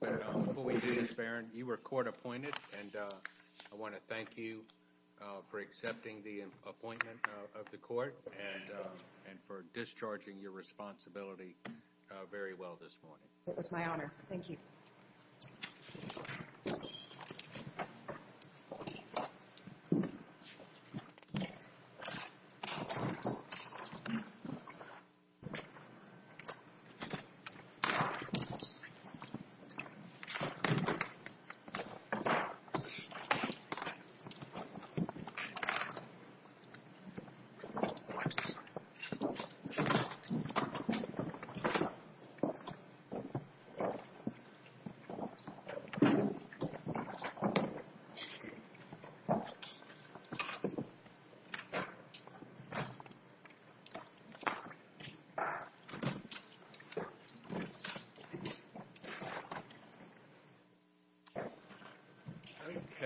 Before we do this, Baron, you were court-appointed, and I want to thank you for accepting the appointment of the court and for discharging your responsibility very well this morning. It was my honor. Thank you. Thank you.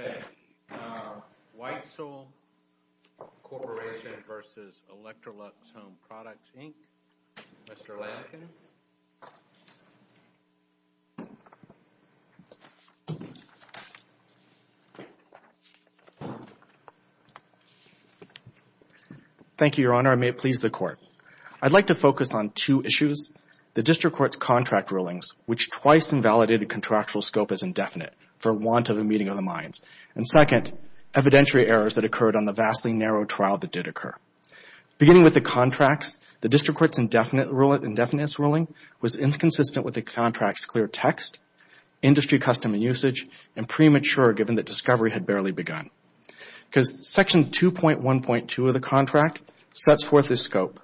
Okay. Whitesell Corporation v. Electrolux Home Products, Inc. Mr. Lattken. Thank you, Your Honor. I may please the court. I'd like to focus on two issues. The district court's contract rulings, which twice invalidated contractual scope as indefinite for want of a meeting of the minds. And second, evidentiary errors that occurred on the vastly narrow trial that did occur. Beginning with the contracts, the district court's indefinite ruling was inconsistent with the contract's clear text, industry custom and usage, and premature given that discovery had barely begun. Because section 2.1.2 of the contract sets forth the scope.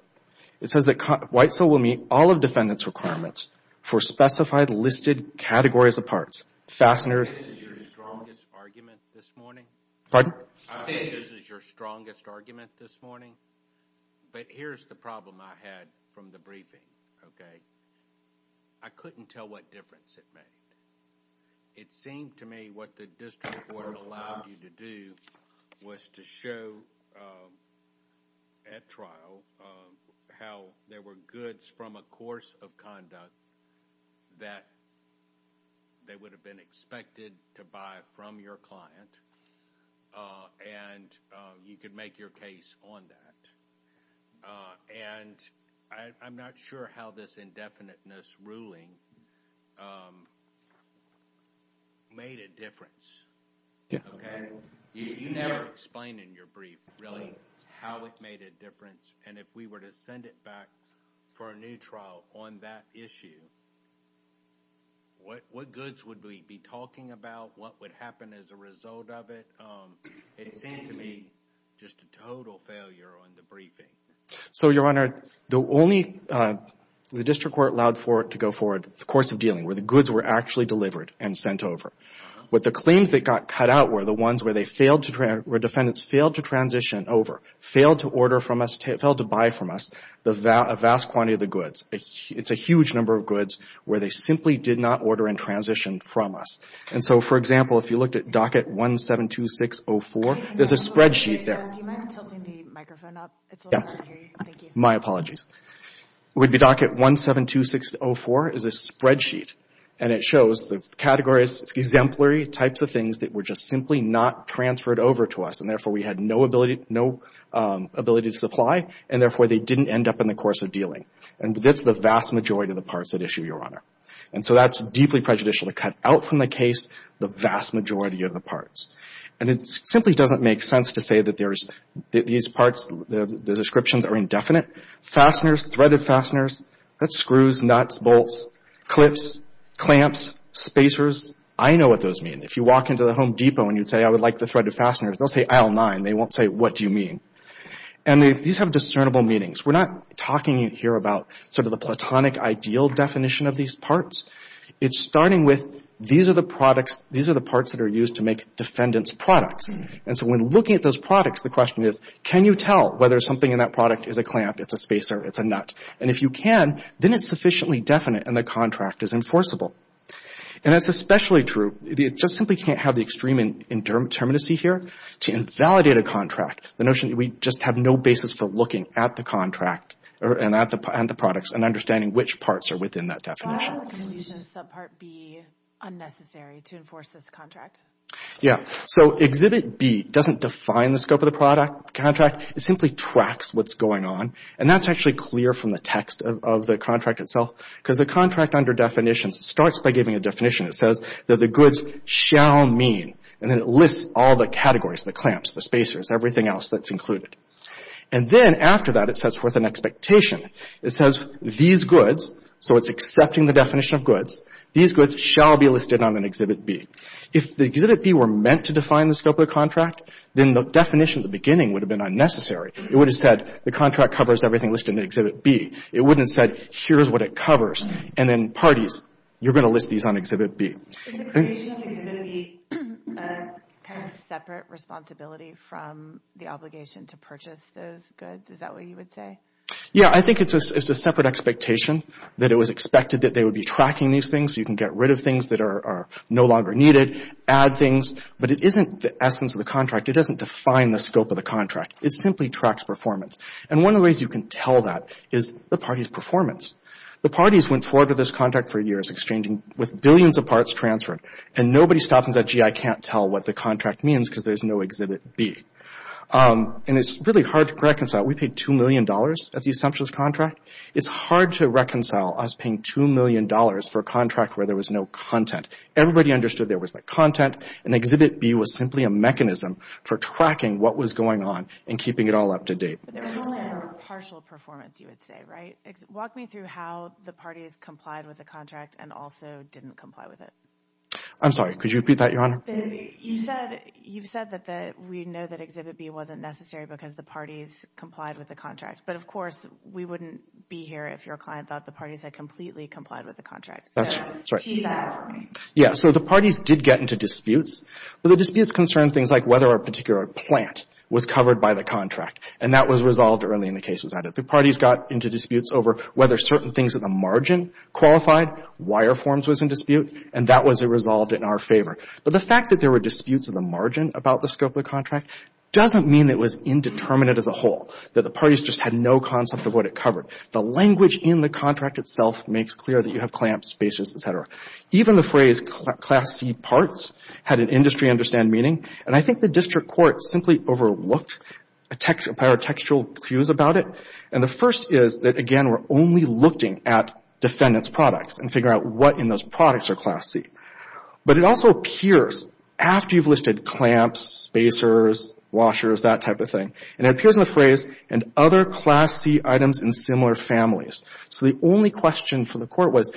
It says that Whitesell will meet all of defendant's requirements for specified listed categories of parts. I think this is your strongest argument this morning. Pardon? I think this is your strongest argument this morning. But here's the problem I had from the briefing, okay? I couldn't tell what difference it made. It seemed to me what the district court allowed you to do was to show at trial how there were goods from a course of conduct that they would have been expected to buy from your client. And you could make your case on that. And I'm not sure how this indefiniteness ruling made a difference, okay? You never explained in your brief really how it made a difference. And if we were to send it back for a new trial on that issue, what goods would we be talking about, what would happen as a result of it? It seemed to me just a total failure on the briefing. So, Your Honor, the only – the district court allowed for it to go forward, the courts of dealing, where the goods were actually delivered and sent over. But the claims that got cut out were the ones where they failed to – where defendants failed to transition over, failed to order from us, failed to buy from us a vast quantity of the goods. It's a huge number of goods where they simply did not order and transition from us. And so, for example, if you looked at docket 172604, there's a spreadsheet there. Do you mind tilting the microphone up? Yes. Thank you. My apologies. It would be docket 172604 is a spreadsheet. And it shows the categories, exemplary types of things that were just simply not transferred over to us. And therefore, we had no ability to supply. And therefore, they didn't end up in the course of dealing. And that's the vast majority of the parts at issue, Your Honor. And so that's deeply prejudicial to cut out from the case the vast majority of the parts. And it simply doesn't make sense to say that there's – that these parts, the descriptions are indefinite. Fasteners, threaded fasteners, that's screws, nuts, bolts, clips, clamps, spacers. I know what those mean. If you walk into the Home Depot and you'd say, I would like the threaded fasteners, they'll say aisle nine. They won't say, what do you mean? And these have discernible meanings. We're not talking here about sort of the platonic ideal definition of these parts. It's starting with these are the products – these are the parts that are used to make defendant's products. And so when looking at those products, the question is, can you tell whether something in that product is a clamp, it's a spacer, it's a nut? And if you can, then it's sufficiently definite and the contract is enforceable. And that's especially true – you just simply can't have the extreme determinacy here to invalidate a contract. The notion that we just have no basis for looking at the contract and at the products and understanding which parts are within that definition. So can you use a subpart B unnecessary to enforce this contract? Yeah. So Exhibit B doesn't define the scope of the contract. It simply tracks what's going on, and that's actually clear from the text of the contract itself because the contract under definitions starts by giving a definition. It says that the goods shall mean, and then it lists all the categories – the clamps, the spacers, everything else that's included. And then after that, it sets forth an expectation. It says these goods – so it's accepting the definition of goods – these goods shall be listed on an Exhibit B. If the Exhibit B were meant to define the scope of the contract, then the definition at the beginning would have been unnecessary. It would have said the contract covers everything listed in Exhibit B. It wouldn't have said, here's what it covers, and then parties, you're going to list these on Exhibit B. Is the creation of Exhibit B a kind of separate responsibility from the obligation to purchase those goods? Is that what you would say? Yeah, I think it's a separate expectation that it was expected that they would be tracking these things. You can get rid of things that are no longer needed, add things. But it isn't the essence of the contract. It doesn't define the scope of the contract. It simply tracks performance. And one of the ways you can tell that is the party's performance. The parties went forward with this contract for years, exchanging – with billions of parts transferred. And nobody stops and says, gee, I can't tell what the contract means because there's no Exhibit B. And it's really hard to reconcile. We paid $2 million at the assumptions contract. It's hard to reconcile us paying $2 million for a contract where there was no content. Everybody understood there was no content, and Exhibit B was simply a mechanism for tracking what was going on and keeping it all up to date. But there was only a partial performance, you would say, right? Walk me through how the parties complied with the contract and also didn't comply with it. I'm sorry, could you repeat that, Your Honor? You've said that we know that Exhibit B wasn't necessary because the parties complied with the contract. But, of course, we wouldn't be here if your client thought the parties had completely complied with the contract. That's right. Yeah, so the parties did get into disputes. But the disputes concerned things like whether a particular plant was covered by the contract. And that was resolved early and the case was added. The parties got into disputes over whether certain things at the margin qualified, wire forms was in dispute, and that was resolved in our favor. But the fact that there were disputes at the margin about the scope of the contract doesn't mean it was indeterminate as a whole, that the parties just had no concept of what it covered. The language in the contract itself makes clear that you have clamps, spacers, et cetera. Even the phrase, Class C parts, had an industry-understand meaning. And I think the district court simply overlooked our textual cues about it. And the first is that, again, we're only looking at defendant's products and figuring out what in those products are Class C. But it also appears, after you've listed clamps, spacers, washers, that type of thing, and it appears in the phrase, and other Class C items in similar families. So the only question for the Court was,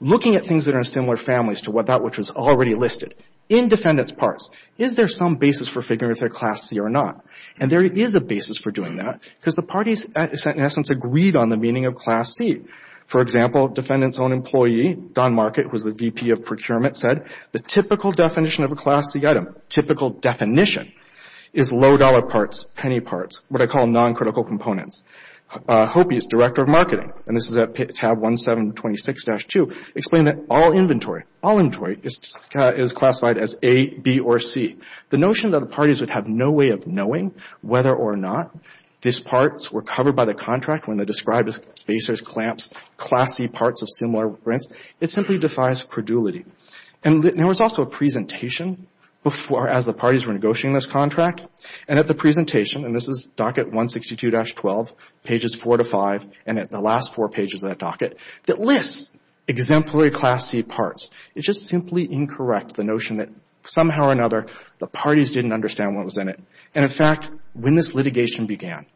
looking at things that are in similar families to that which was already listed in defendant's parts, is there some basis for figuring out if they're Class C or not? And there is a basis for doing that because the parties in essence agreed on the meaning of Class C. For example, defendant's own employee, Don Market, who was the VP of Procurement, said the typical definition of a Class C item, typical definition, is low-dollar parts, penny parts, what I call non-critical components. Hopi, as Director of Marketing, and this is at tab 1726-2, explained that all inventory, all inventory, is classified as A, B, or C. The notion that the parties would have no way of knowing whether or not these parts were covered by the contract when they described spacers, clamps, Class C parts of similar rents, it simply defies credulity. And there was also a presentation before, as the parties were negotiating this contract, and at the presentation, and this is docket 162-12, pages 4 to 5, and at the last four pages of that docket, that lists exemplary Class C parts. It's just simply incorrect, the notion that somehow or another the parties didn't understand what was in it. And in fact, when this litigation began,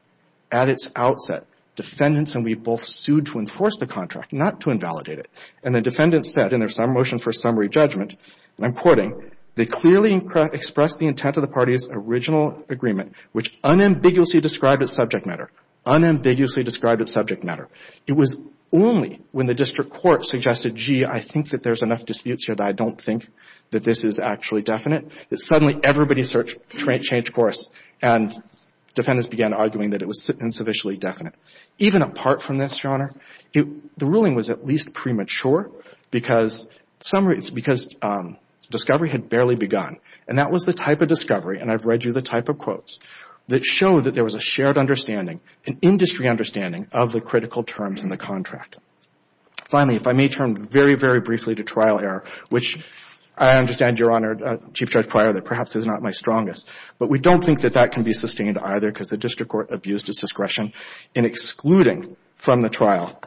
at its outset, defendants and we both sued to enforce the contract, not to invalidate it. And the defendants said in their motion for summary judgment, and I'm quoting, they clearly expressed the intent of the parties' original agreement, which unambiguously described its subject matter. Unambiguously described its subject matter. It was only when the district court suggested, gee, I think that there's enough disputes here that I don't think that this is actually definite, that suddenly everybody changed course, and defendants began arguing that it was insufficiently definite. Even apart from this, Your Honor, the ruling was at least premature because discovery had barely begun. And that was the type of discovery, and I've read you the type of quotes, that showed that there was a shared understanding, an industry understanding of the critical terms in the contract. Finally, if I may turn very, very briefly to trial error, which I understand, Your Honor, Chief Judge Pryor, that perhaps is not my strongest, but we don't think that that can be sustained either because the district court abused its discretion in excluding from the trial,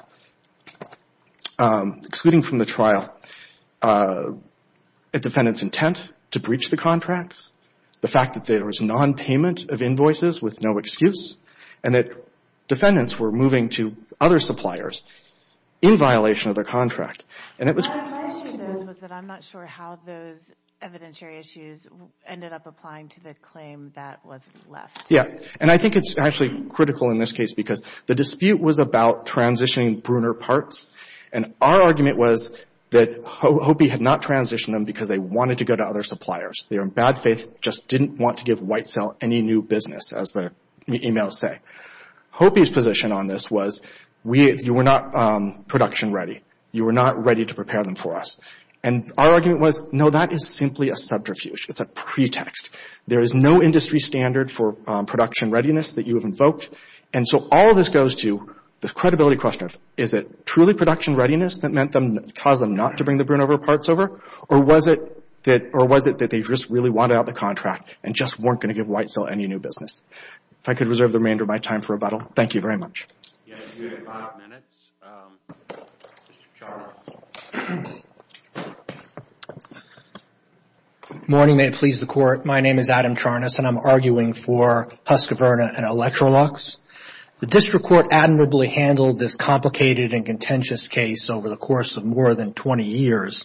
excluding from the trial a defendant's intent to breach the contracts, the fact that there was nonpayment of invoices with no excuse, and that defendants were moving to other suppliers in violation of their contract. And it was... My issue, though, was that I'm not sure how those evidentiary issues ended up applying to the claim that was left. Yeah, and I think it's actually critical in this case because the dispute was about transitioning Bruner parts, and our argument was that Hopi had not transitioned them because they wanted to go to other suppliers. They were in bad faith, just didn't want to give White Cell any new business, as the emails say. Hopi's position on this was, you were not production ready. You were not ready to prepare them for us. And our argument was, no, that is simply a subterfuge. It's a pretext. There is no industry standard for production readiness that you have invoked. And so all this goes to the credibility question of, is it truly production readiness that caused them not to bring the Bruner parts over, or was it that they just really wanted out the contract and just weren't going to give White Cell any new business? If I could reserve the remainder of my time for rebuttal, thank you very much. You have five minutes. Mr. Charles. Morning. May it please the Court. My name is Adam Charnas, and I'm arguing for Husqvarna and Electrolux. The district court admirably handled this complicated and contentious case over the course of more than 20 years,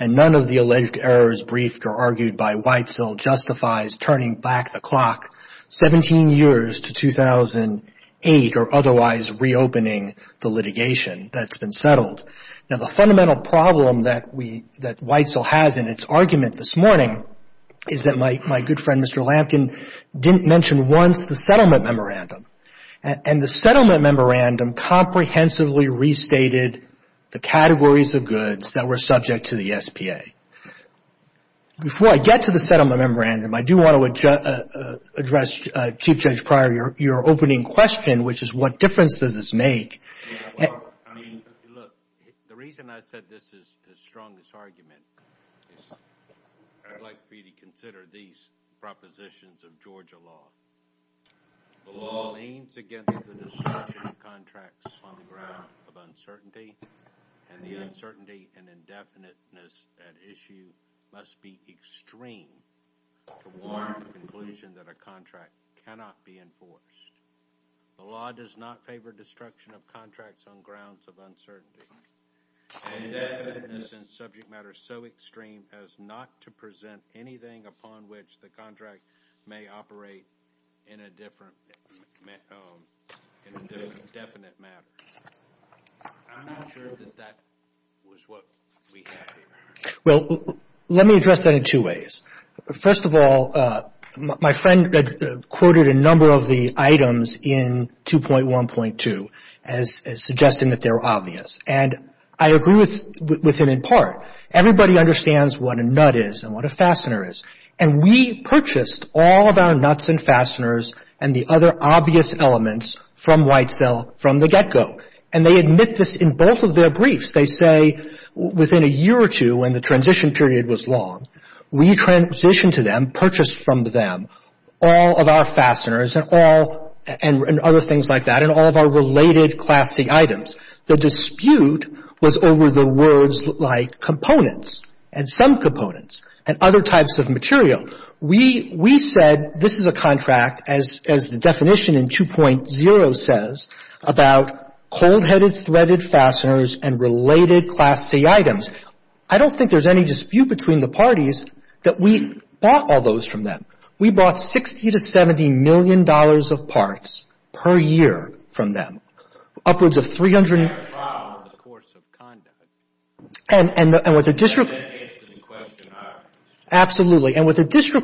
and none of the alleged errors briefed or argued by White Cell justifies turning back the clock 17 years to 2008 or otherwise reopening the litigation that's been settled. Now, the fundamental problem that White Cell has in its argument this morning is that my good friend, Mr. Lampkin, didn't mention once the settlement memorandum. And the settlement memorandum comprehensively restated the categories of goods that were subject to the SPA. Before I get to the settlement memorandum, I do want to address, Chief Judge Pryor, your opening question, which is what difference does this make? I mean, look, the reason I said this is the strongest argument is I'd like for you to consider these propositions of Georgia law. The law leans against the destruction of contracts on the ground of uncertainty, and the uncertainty and indefiniteness at issue must be extreme to warrant the conclusion that a contract cannot be enforced. The law does not favor destruction of contracts on grounds of uncertainty. Indefiniteness in subject matter is so extreme as not to present anything upon which the contract may operate in a different, in a definite matter. I'm not sure that that was what we had here. Well, let me address that in two ways. First of all, my friend quoted a number of the items in 2.1.2 as suggesting that they were obvious. And I agree with him in part. Everybody understands what a nut is and what a fastener is. And we purchased all of our nuts and fasteners and the other obvious elements from Whitesell from the get-go. And they admit this in both of their briefs. They say within a year or two, when the transition period was long, we transitioned to them, purchased from them all of our fasteners and other things like that and all of our related Class C items. The dispute was over the words like components and some components and other types of material. We said this is a contract, as the definition in 2.0 says, about cold-headed threaded fasteners and related Class C items. I don't think there's any dispute between the parties that we bought all those from them. We bought $60 to $70 million of parts per year from them. We had a trial in the course of conduct. And what the district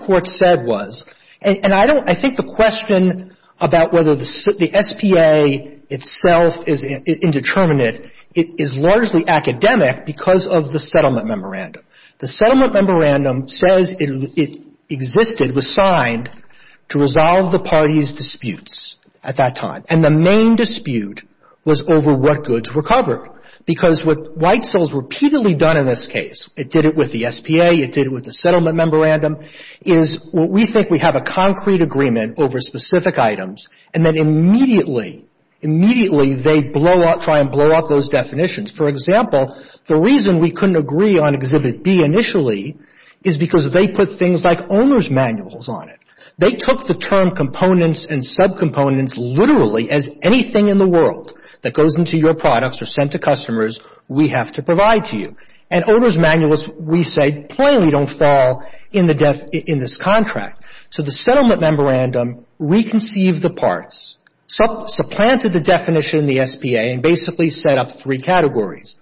court said was, and I think the question about whether the SPA itself is indeterminate is largely academic because of the settlement memorandum. The settlement memorandum says it existed, was signed, to resolve the parties' disputes at that time. And the main dispute was over what goods were covered. Because what White Soil has repeatedly done in this case, it did it with the SPA, it did it with the settlement memorandum, is what we think we have a concrete agreement over specific items and then immediately, immediately they blow up, try and blow up those definitions. For example, the reason we couldn't agree on Exhibit B initially is because they put things like owner's manuals on it. They took the term components and subcomponents literally as anything in the world that goes into your products or sent to customers we have to provide to you. And owner's manuals, we say, plainly don't fall in this contract. So the settlement memorandum reconceived the parts, supplanted the definition in the SPA and basically set up three categories,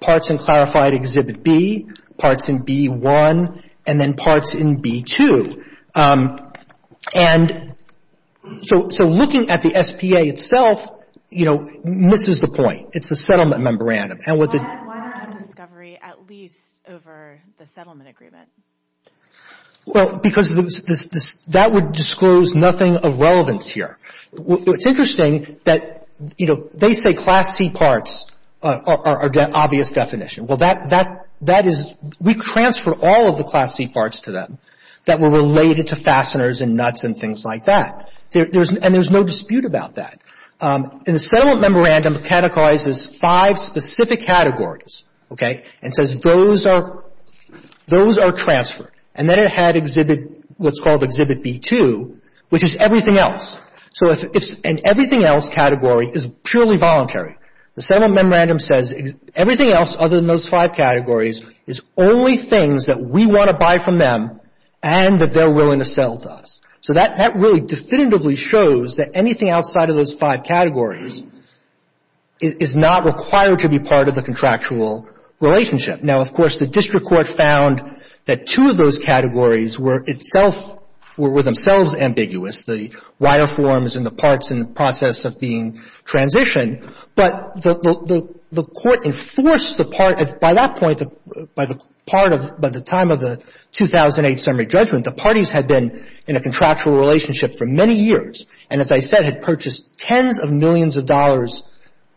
parts in clarified Exhibit B, parts in B1, and then parts in B2. And so looking at the SPA itself, you know, misses the point. It's the settlement memorandum. Why not discovery at least over the settlement agreement? Well, because that would disclose nothing of relevance here. It's interesting that, you know, they say Class C parts are the obvious definition. Well, that is we transfer all of the Class C parts to them that were related to fasteners and nuts and things like that. And there's no dispute about that. And the settlement memorandum categorizes five specific categories, okay, and says those are transferred. And then it had Exhibit, what's called Exhibit B2, which is everything else. So if it's an everything else category, it's purely voluntary. The settlement memorandum says everything else other than those five categories is only things that we want to buy from them and that they're willing to sell to us. So that really definitively shows that anything outside of those five categories is not required to be part of the contractual relationship. Now, of course, the district court found that two of those categories were itself were themselves ambiguous, the wire forms and the parts in the process of being transitioned. But the Court enforced the part. By that point, by the part of the time of the 2008 summary judgment, the parties had been in a contractual relationship for many years and, as I said, had purchased tens of millions of dollars.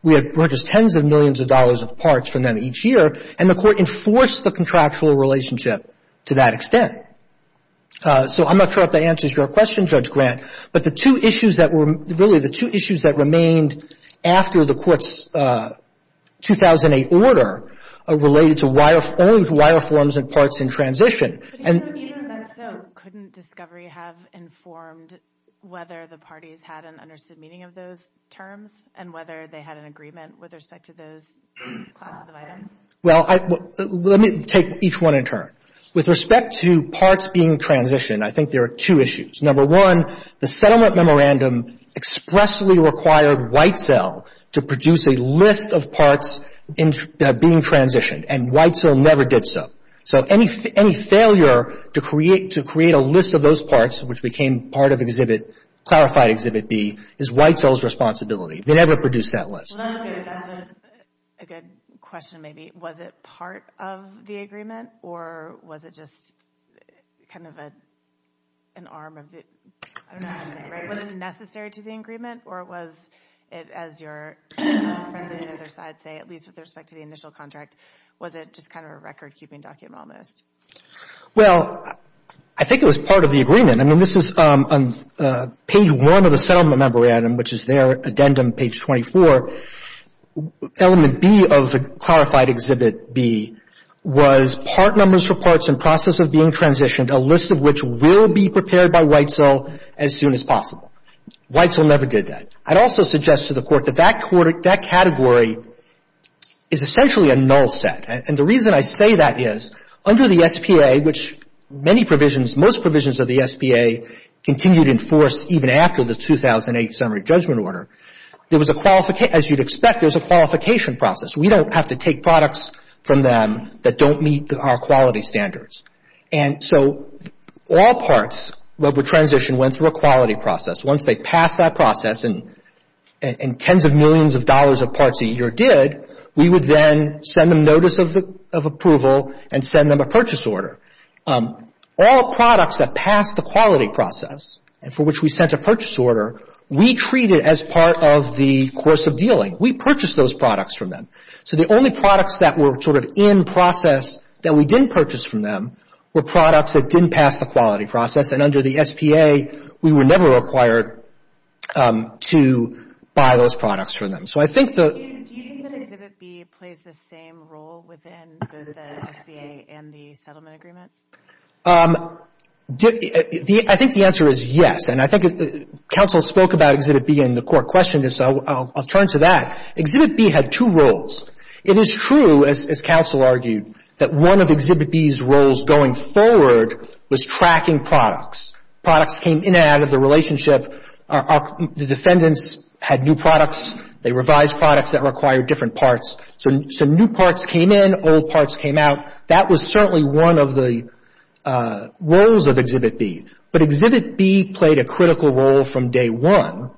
We had purchased tens of millions of dollars of parts from them each year, and the Court enforced the contractual relationship to that extent. So I'm not sure if that answers your question, Judge Grant, but the two issues that were really the two issues that remained after the Court's 2008 order are related to only wire forms and parts in transition. But even if that's so, couldn't discovery have informed whether the parties had an understood meaning of those terms and whether they had an agreement with respect to those classes of items? Well, let me take each one in turn. With respect to parts being transitioned, I think there are two issues. Number one, the settlement memorandum expressly required Whitesell to produce a list of parts being transitioned, and Whitesell never did so. So any failure to create a list of those parts, which became part of Exhibit, clarified Exhibit B, is Whitesell's responsibility. They never produced that list. Well, that's good. That's a good question, maybe. Was it part of the agreement, or was it just kind of an arm of the— I don't know how to say it, right? Was it necessary to the agreement, or was it, as your friends on the other side say, at least with respect to the initial contract, was it just kind of a record-keeping document almost? Well, I think it was part of the agreement. I mean, this is on page 1 of the settlement memorandum, which is their addendum, page 24. Element B of the clarified Exhibit B was part numbers for parts in process of being transitioned, a list of which will be prepared by Whitesell as soon as possible. Whitesell never did that. I'd also suggest to the Court that that category is essentially a null set. And the reason I say that is, under the SPA, which many provisions, most provisions of the SPA continued in force even after the 2008 summary judgment order, there was a—as you'd expect, there was a qualification process. We don't have to take products from them that don't meet our quality standards. And so all parts that were transitioned went through a quality process. Once they passed that process, and tens of millions of dollars of parts a year did, we would then send them notice of approval and send them a purchase order. All products that passed the quality process and for which we sent a purchase order, we treated as part of the course of dealing. We purchased those products from them. So the only products that were sort of in process that we didn't purchase from them were products that didn't pass the quality process. And under the SPA, we were never required to buy those products from them. So I think the— Do you think that Exhibit B plays the same role within both the SPA and the settlement agreement? I think the answer is yes. And I think counsel spoke about Exhibit B in the court question, so I'll turn to that. Exhibit B had two roles. It is true, as counsel argued, that one of Exhibit B's roles going forward was tracking products. Products came in and out of the relationship. The defendants had new products. They revised products that required different parts. So new parts came in, old parts came out. That was certainly one of the roles of Exhibit B. But Exhibit B played a critical role from day one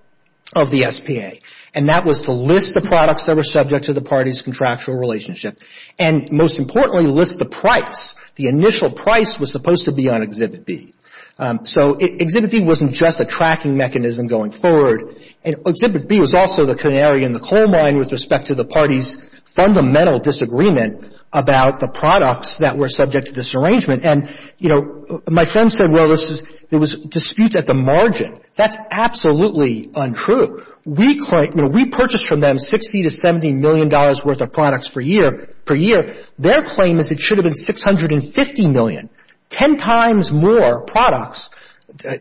of the SPA, and that was to list the products that were subject to the party's contractual relationship. And most importantly, list the price. The initial price was supposed to be on Exhibit B. So Exhibit B wasn't just a tracking mechanism going forward. And Exhibit B was also the canary in the coal mine with respect to the party's fundamental disagreement about the products that were subject to this arrangement. And, you know, my friend said, well, there was disputes at the margin. That's absolutely untrue. We purchased from them $60 million to $70 million worth of products per year. Their claim is it should have been $650 million. Ten times more products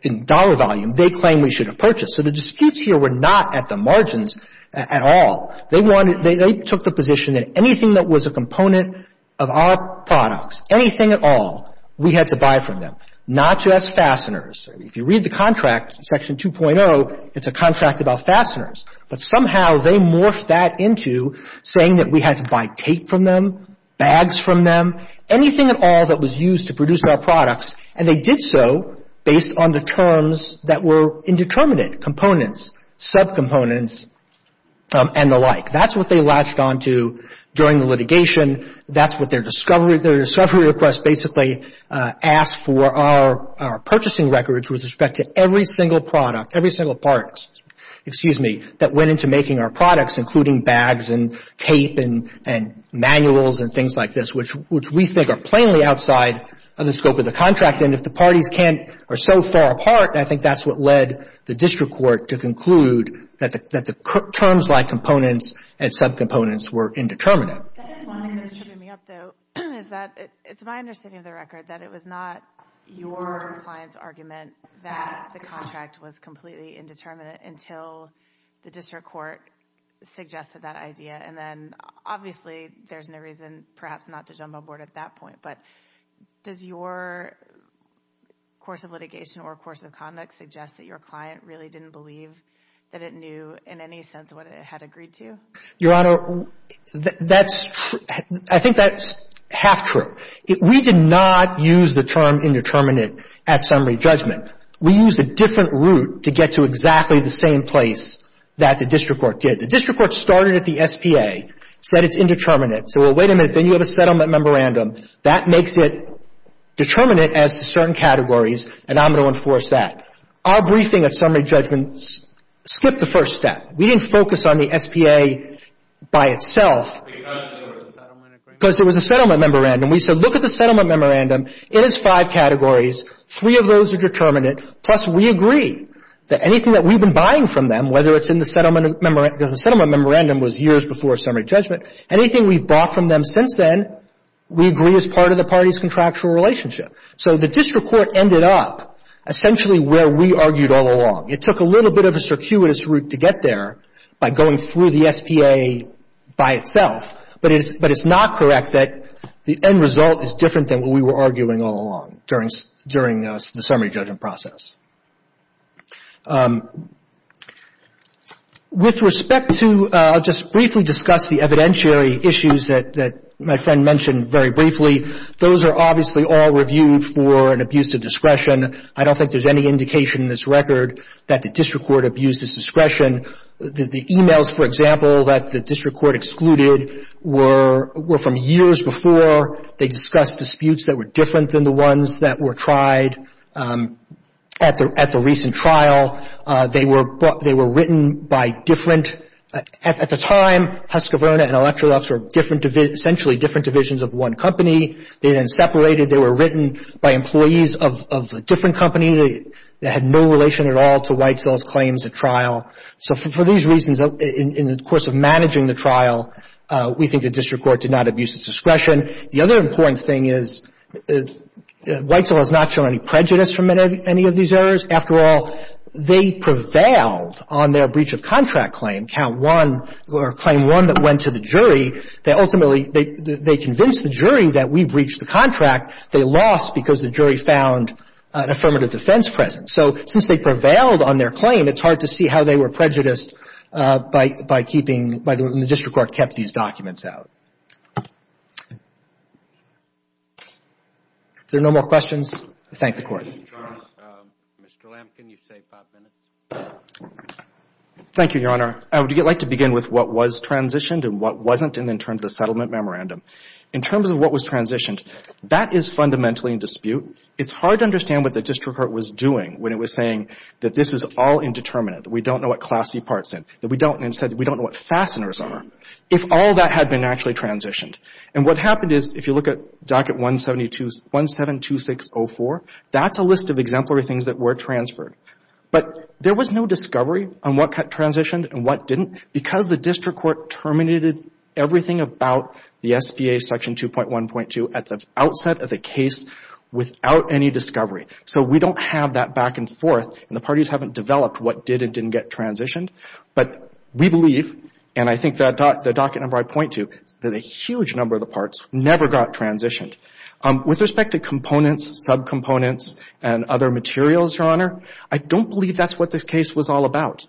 in dollar volume they claim we should have purchased. So the disputes here were not at the margins at all. They took the position that anything that was a component of our products, anything at all, we had to buy from them. Not just fasteners. If you read the contract, Section 2.0, it's a contract about fasteners. But somehow they morphed that into saying that we had to buy tape from them, bags from them, anything at all that was used to produce our products. And they did so based on the terms that were indeterminate, components, subcomponents, and the like. That's what they latched onto during the litigation. That's what their discovery request basically asked for our purchasing records with respect to every single product, every single product, excuse me, that went into making our products, including bags and tape and manuals and things like this, which we think are plainly outside of the scope of the contract. And if the parties can't or so far apart, I think that's what led the district court to conclude that the terms like components and subcomponents were indeterminate. That's one thing that's tripping me up, though, is that it's my understanding of the record that it was not your client's argument that the contract was completely indeterminate until the district court suggested that idea. And then obviously there's no reason perhaps not to jump on board at that point. But does your course of litigation or course of conduct suggest that your client really didn't believe that it knew in any sense what it had agreed to? Your Honor, I think that's half true. We did not use the term indeterminate at summary judgment. We used a different route to get to exactly the same place that the district court did. The district court started at the SPA, said it's indeterminate. So, well, wait a minute. Then you have a settlement memorandum. That makes it determinate as to certain categories, and I'm going to enforce that. Our briefing at summary judgment slipped the first step. We didn't focus on the SPA by itself. Because there was a settlement agreement. Because there was a settlement memorandum. We said, look at the settlement memorandum. It has five categories. Three of those are determinate. Plus, we agree that anything that we've been buying from them, whether it's in the settlement memorandum, because the settlement memorandum was years before summary judgment, anything we've bought from them since then, we agree is part of the party's contractual relationship. So the district court ended up essentially where we argued all along. It took a little bit of a circuitous route to get there by going through the SPA by itself. But it's not correct that the end result is different than what we were arguing all along during the summary judgment process. With respect to, I'll just briefly discuss the evidentiary issues that my friend mentioned very briefly. Those are obviously all reviewed for an abuse of discretion. I don't think there's any indication in this record that the district court abused its discretion. The e-mails, for example, that the district court excluded were from years before. They discussed disputes that were different than the ones that were tried at the recent trial. They were written by different, at the time, Husqvarna and Electrolux were different, essentially different divisions of one company. They then separated. They were written by employees of a different company that had no relation at all to Whitecell's claims at trial. So for these reasons, in the course of managing the trial, we think the district court did not abuse its discretion. The other important thing is Whitecell has not shown any prejudice from any of these errors. After all, they prevailed on their breach of contract claim, Count 1, or Claim 1 that went to the jury. They ultimately, they convinced the jury that we breached the contract. They lost because the jury found an affirmative defense present. So since they prevailed on their claim, it's hard to see how they were prejudiced by keeping, and the district court kept these documents out. If there are no more questions, I thank the Court. Mr. Lamkin, you've saved five minutes. Thank you, Your Honor. I would like to begin with what was transitioned and what wasn't in terms of the settlement memorandum. In terms of what was transitioned, that is fundamentally in dispute. It's hard to understand what the district court was doing when it was saying that this is all indeterminate, that we don't know what class C parts in, that we don't know what fasteners are, if all that had been actually transitioned. And what happened is, if you look at Docket 172604, that's a list of exemplary things that were transferred. But there was no discovery on what transitioned and what didn't because the district court terminated everything about the SBA Section 2.1.2 at the outset of the case without any discovery. So we don't have that back and forth, and the parties haven't developed what did and didn't get transitioned. But we believe, and I think that the docket number I point to, that a huge number of the parts never got transitioned. With respect to components, subcomponents, and other materials, Your Honor, I don't believe that's what this case was all about.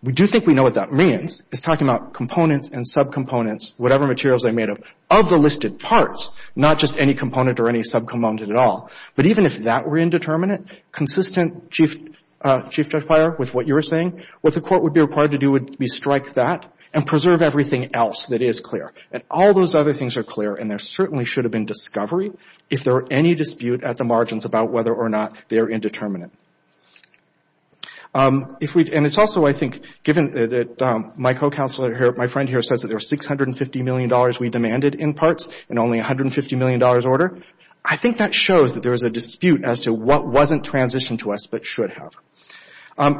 We do think we know what that means. It's talking about components and subcomponents, whatever materials they made of, of the listed parts, not just any component or any subcomponent at all. But even if that were indeterminate, consistent, Chief Judge Breyer, with what you were saying, what the Court would be required to do would be strike that and preserve everything else that is clear. And all those other things are clear, and there certainly should have been discovery, if there were any dispute at the margins about whether or not they're indeterminate. If we've — and it's also, I think, given that my co-counselor here, my friend here, says that there are $650 million we demanded in parts and only $150 million order, I think that shows that there is a dispute as to what wasn't transitioned to us but should have.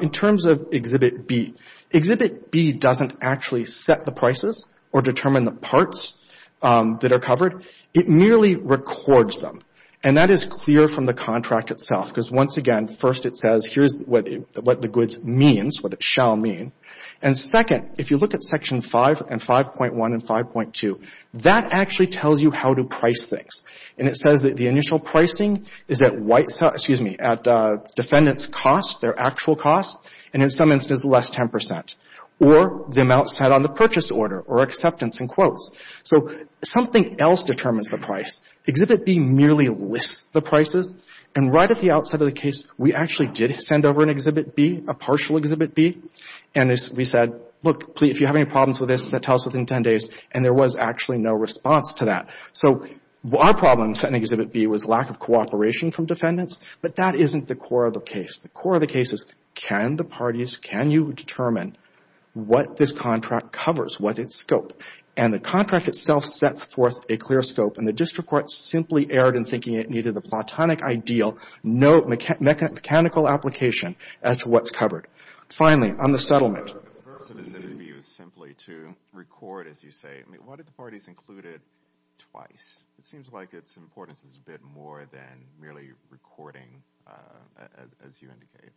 In terms of Exhibit B, Exhibit B doesn't actually set the prices or determine the parts that are covered. It merely records them. And that is clear from the contract itself because, once again, first it says, here's what the goods means, what it shall mean. And second, if you look at Section 5 and 5.1 and 5.2, that actually tells you how to price things. And it says that the initial pricing is at white — excuse me, at defendant's cost, their actual cost, and in some instances, less 10 percent, or the amount set on the purchase order or acceptance in quotes. So something else determines the price. Exhibit B merely lists the prices. And right at the outset of the case, we actually did send over an Exhibit B, a partial Exhibit B. And we said, look, if you have any problems with this, tell us within 10 days. And there was actually no response to that. So our problem in sending Exhibit B was lack of cooperation from defendants, but that isn't the core of the case. The core of the case is, can the parties, can you determine what this contract covers, what its scope? And the contract itself sets forth a clear scope, and the district court simply erred in thinking it needed the platonic ideal, no mechanical application as to what's covered. Finally, on the settlement. The purpose of Exhibit B was simply to record, as you say. I mean, why did the parties include it twice? It seems like its importance is a bit more than merely recording, as you indicated.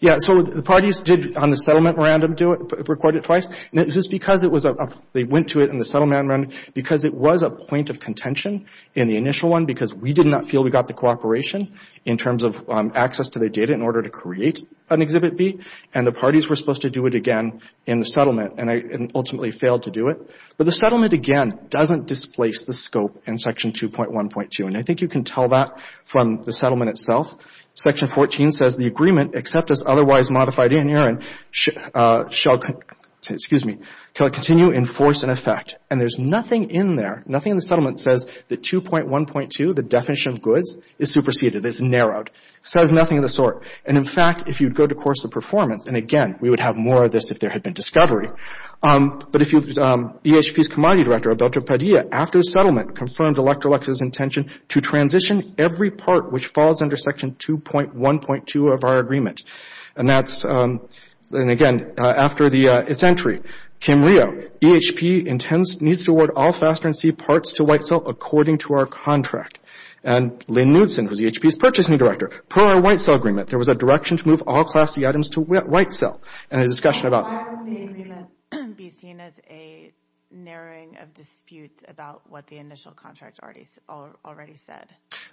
Yeah, so the parties did, on the settlement random, do it, record it twice. Just because it was a — they went to it in the settlement random, because it was a point of contention in the initial one, because we did not feel we got the cooperation in terms of access to their data in order to create an Exhibit B, and the parties were supposed to do it again in the settlement, and ultimately failed to do it. But the settlement, again, doesn't displace the scope in Section 2.1.2, and I think you can tell that from the settlement itself. Section 14 says, the agreement, except as otherwise modified in urine, shall continue in force and effect. And there's nothing in there, nothing in the settlement, that says that 2.1.2, the definition of goods, is superseded, is narrowed. It says nothing of the sort. And, in fact, if you go to course of performance, and, again, we would have more of this if there had been discovery, but if you — EHP's Commodity Director, Alberto Padilla, after settlement confirmed Electrolux's intention to transition every part which falls under Section 2.1.2 of our agreement. And that's — and, again, after its entry, Kim Rio, EHP intends — needs to award all faster-than-sea parts to White Salt according to our contract. And Lynn Knudson, who's EHP's Purchasing Director, per our White Salt agreement, there was a direction to move all classy items to White Salt. And a discussion about — Why would the agreement be seen as a narrowing of disputes about what the initial contract already said?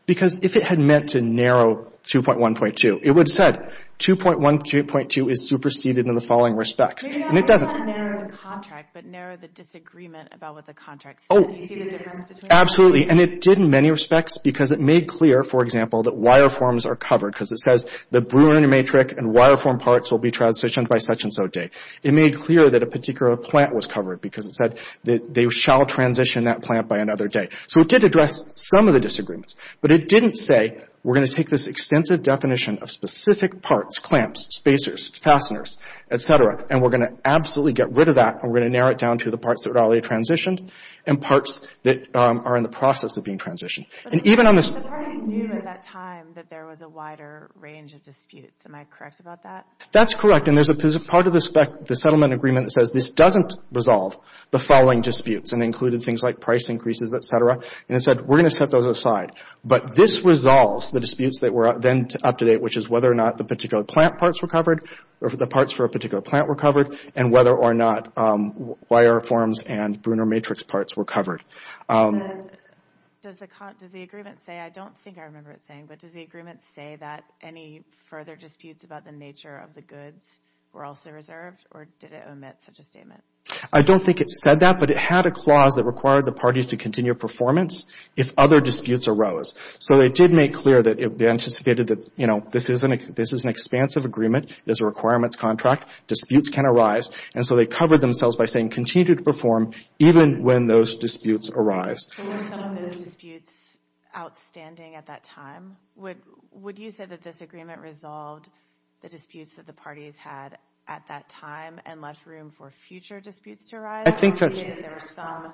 Because if it had meant to narrow 2.1.2, it would have said, 2.1.2 is superseded in the following respects. And it doesn't. Maybe not narrow the contract, but narrow the disagreement about what the contract said. Do you see the difference between — Absolutely. And it did in many respects because it made clear, for example, that wire forms are covered, because it says the brewing matrix and wire form parts will be transitioned by such-and-so date. It made clear that a particular plant was covered because it said that they shall transition that plant by another date. So it did address some of the disagreements. But it didn't say we're going to take this extensive definition of specific parts, clamps, spacers, fasteners, et cetera, and we're going to absolutely get rid of that and we're going to narrow it down to the parts that are already transitioned and parts that are in the process of being transitioned. But the parties knew at that time that there was a wider range of disputes. Am I correct about that? That's correct. And there's a part of the settlement agreement that says this doesn't resolve the following disputes and included things like price increases, et cetera. And it said we're going to set those aside. But this resolves the disputes that were then up to date, which is whether or not the particular plant parts were covered or the parts for a particular plant were covered and whether or not wire forms and Brunner matrix parts were covered. Does the agreement say, I don't think I remember it saying, but does the agreement say that any further disputes about the nature of the goods were also reserved or did it omit such a statement? I don't think it said that, but it had a clause that required the parties to continue performance if other disputes arose. So they did make clear that they anticipated that this is an expansive agreement. This is a requirements contract. Disputes can arise. And so they covered themselves by saying continue to perform even when those disputes arise. Were some of those disputes outstanding at that time? Would you say that this agreement resolved the disputes that the parties had at that time and left room for future disputes to arise? I think that's true. Or did you say that there were some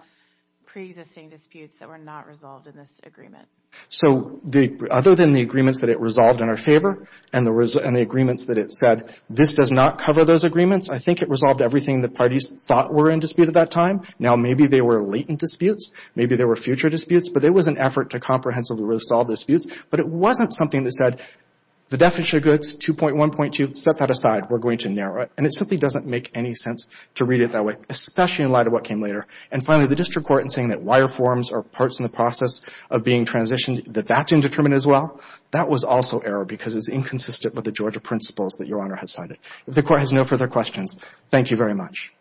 preexisting disputes that were not resolved in this agreement? So other than the agreements that it resolved in our favor and the agreements that it said, this does not cover those agreements, I think it resolved everything the parties thought were in dispute at that time. Now, maybe they were latent disputes. Maybe there were future disputes. But there was an effort to comprehensively resolve those disputes. But it wasn't something that said, the definition of goods, 2.1.2, set that aside. We're going to narrow it. And it simply doesn't make any sense to read it that way, especially in light of what came later. And finally, the district court in saying that wire forms are parts in the process of being transitioned, that that's indeterminate as well, that was also error because it was inconsistent with the Georgia principles that Your Honor has cited. If the court has no further questions, thank you very much.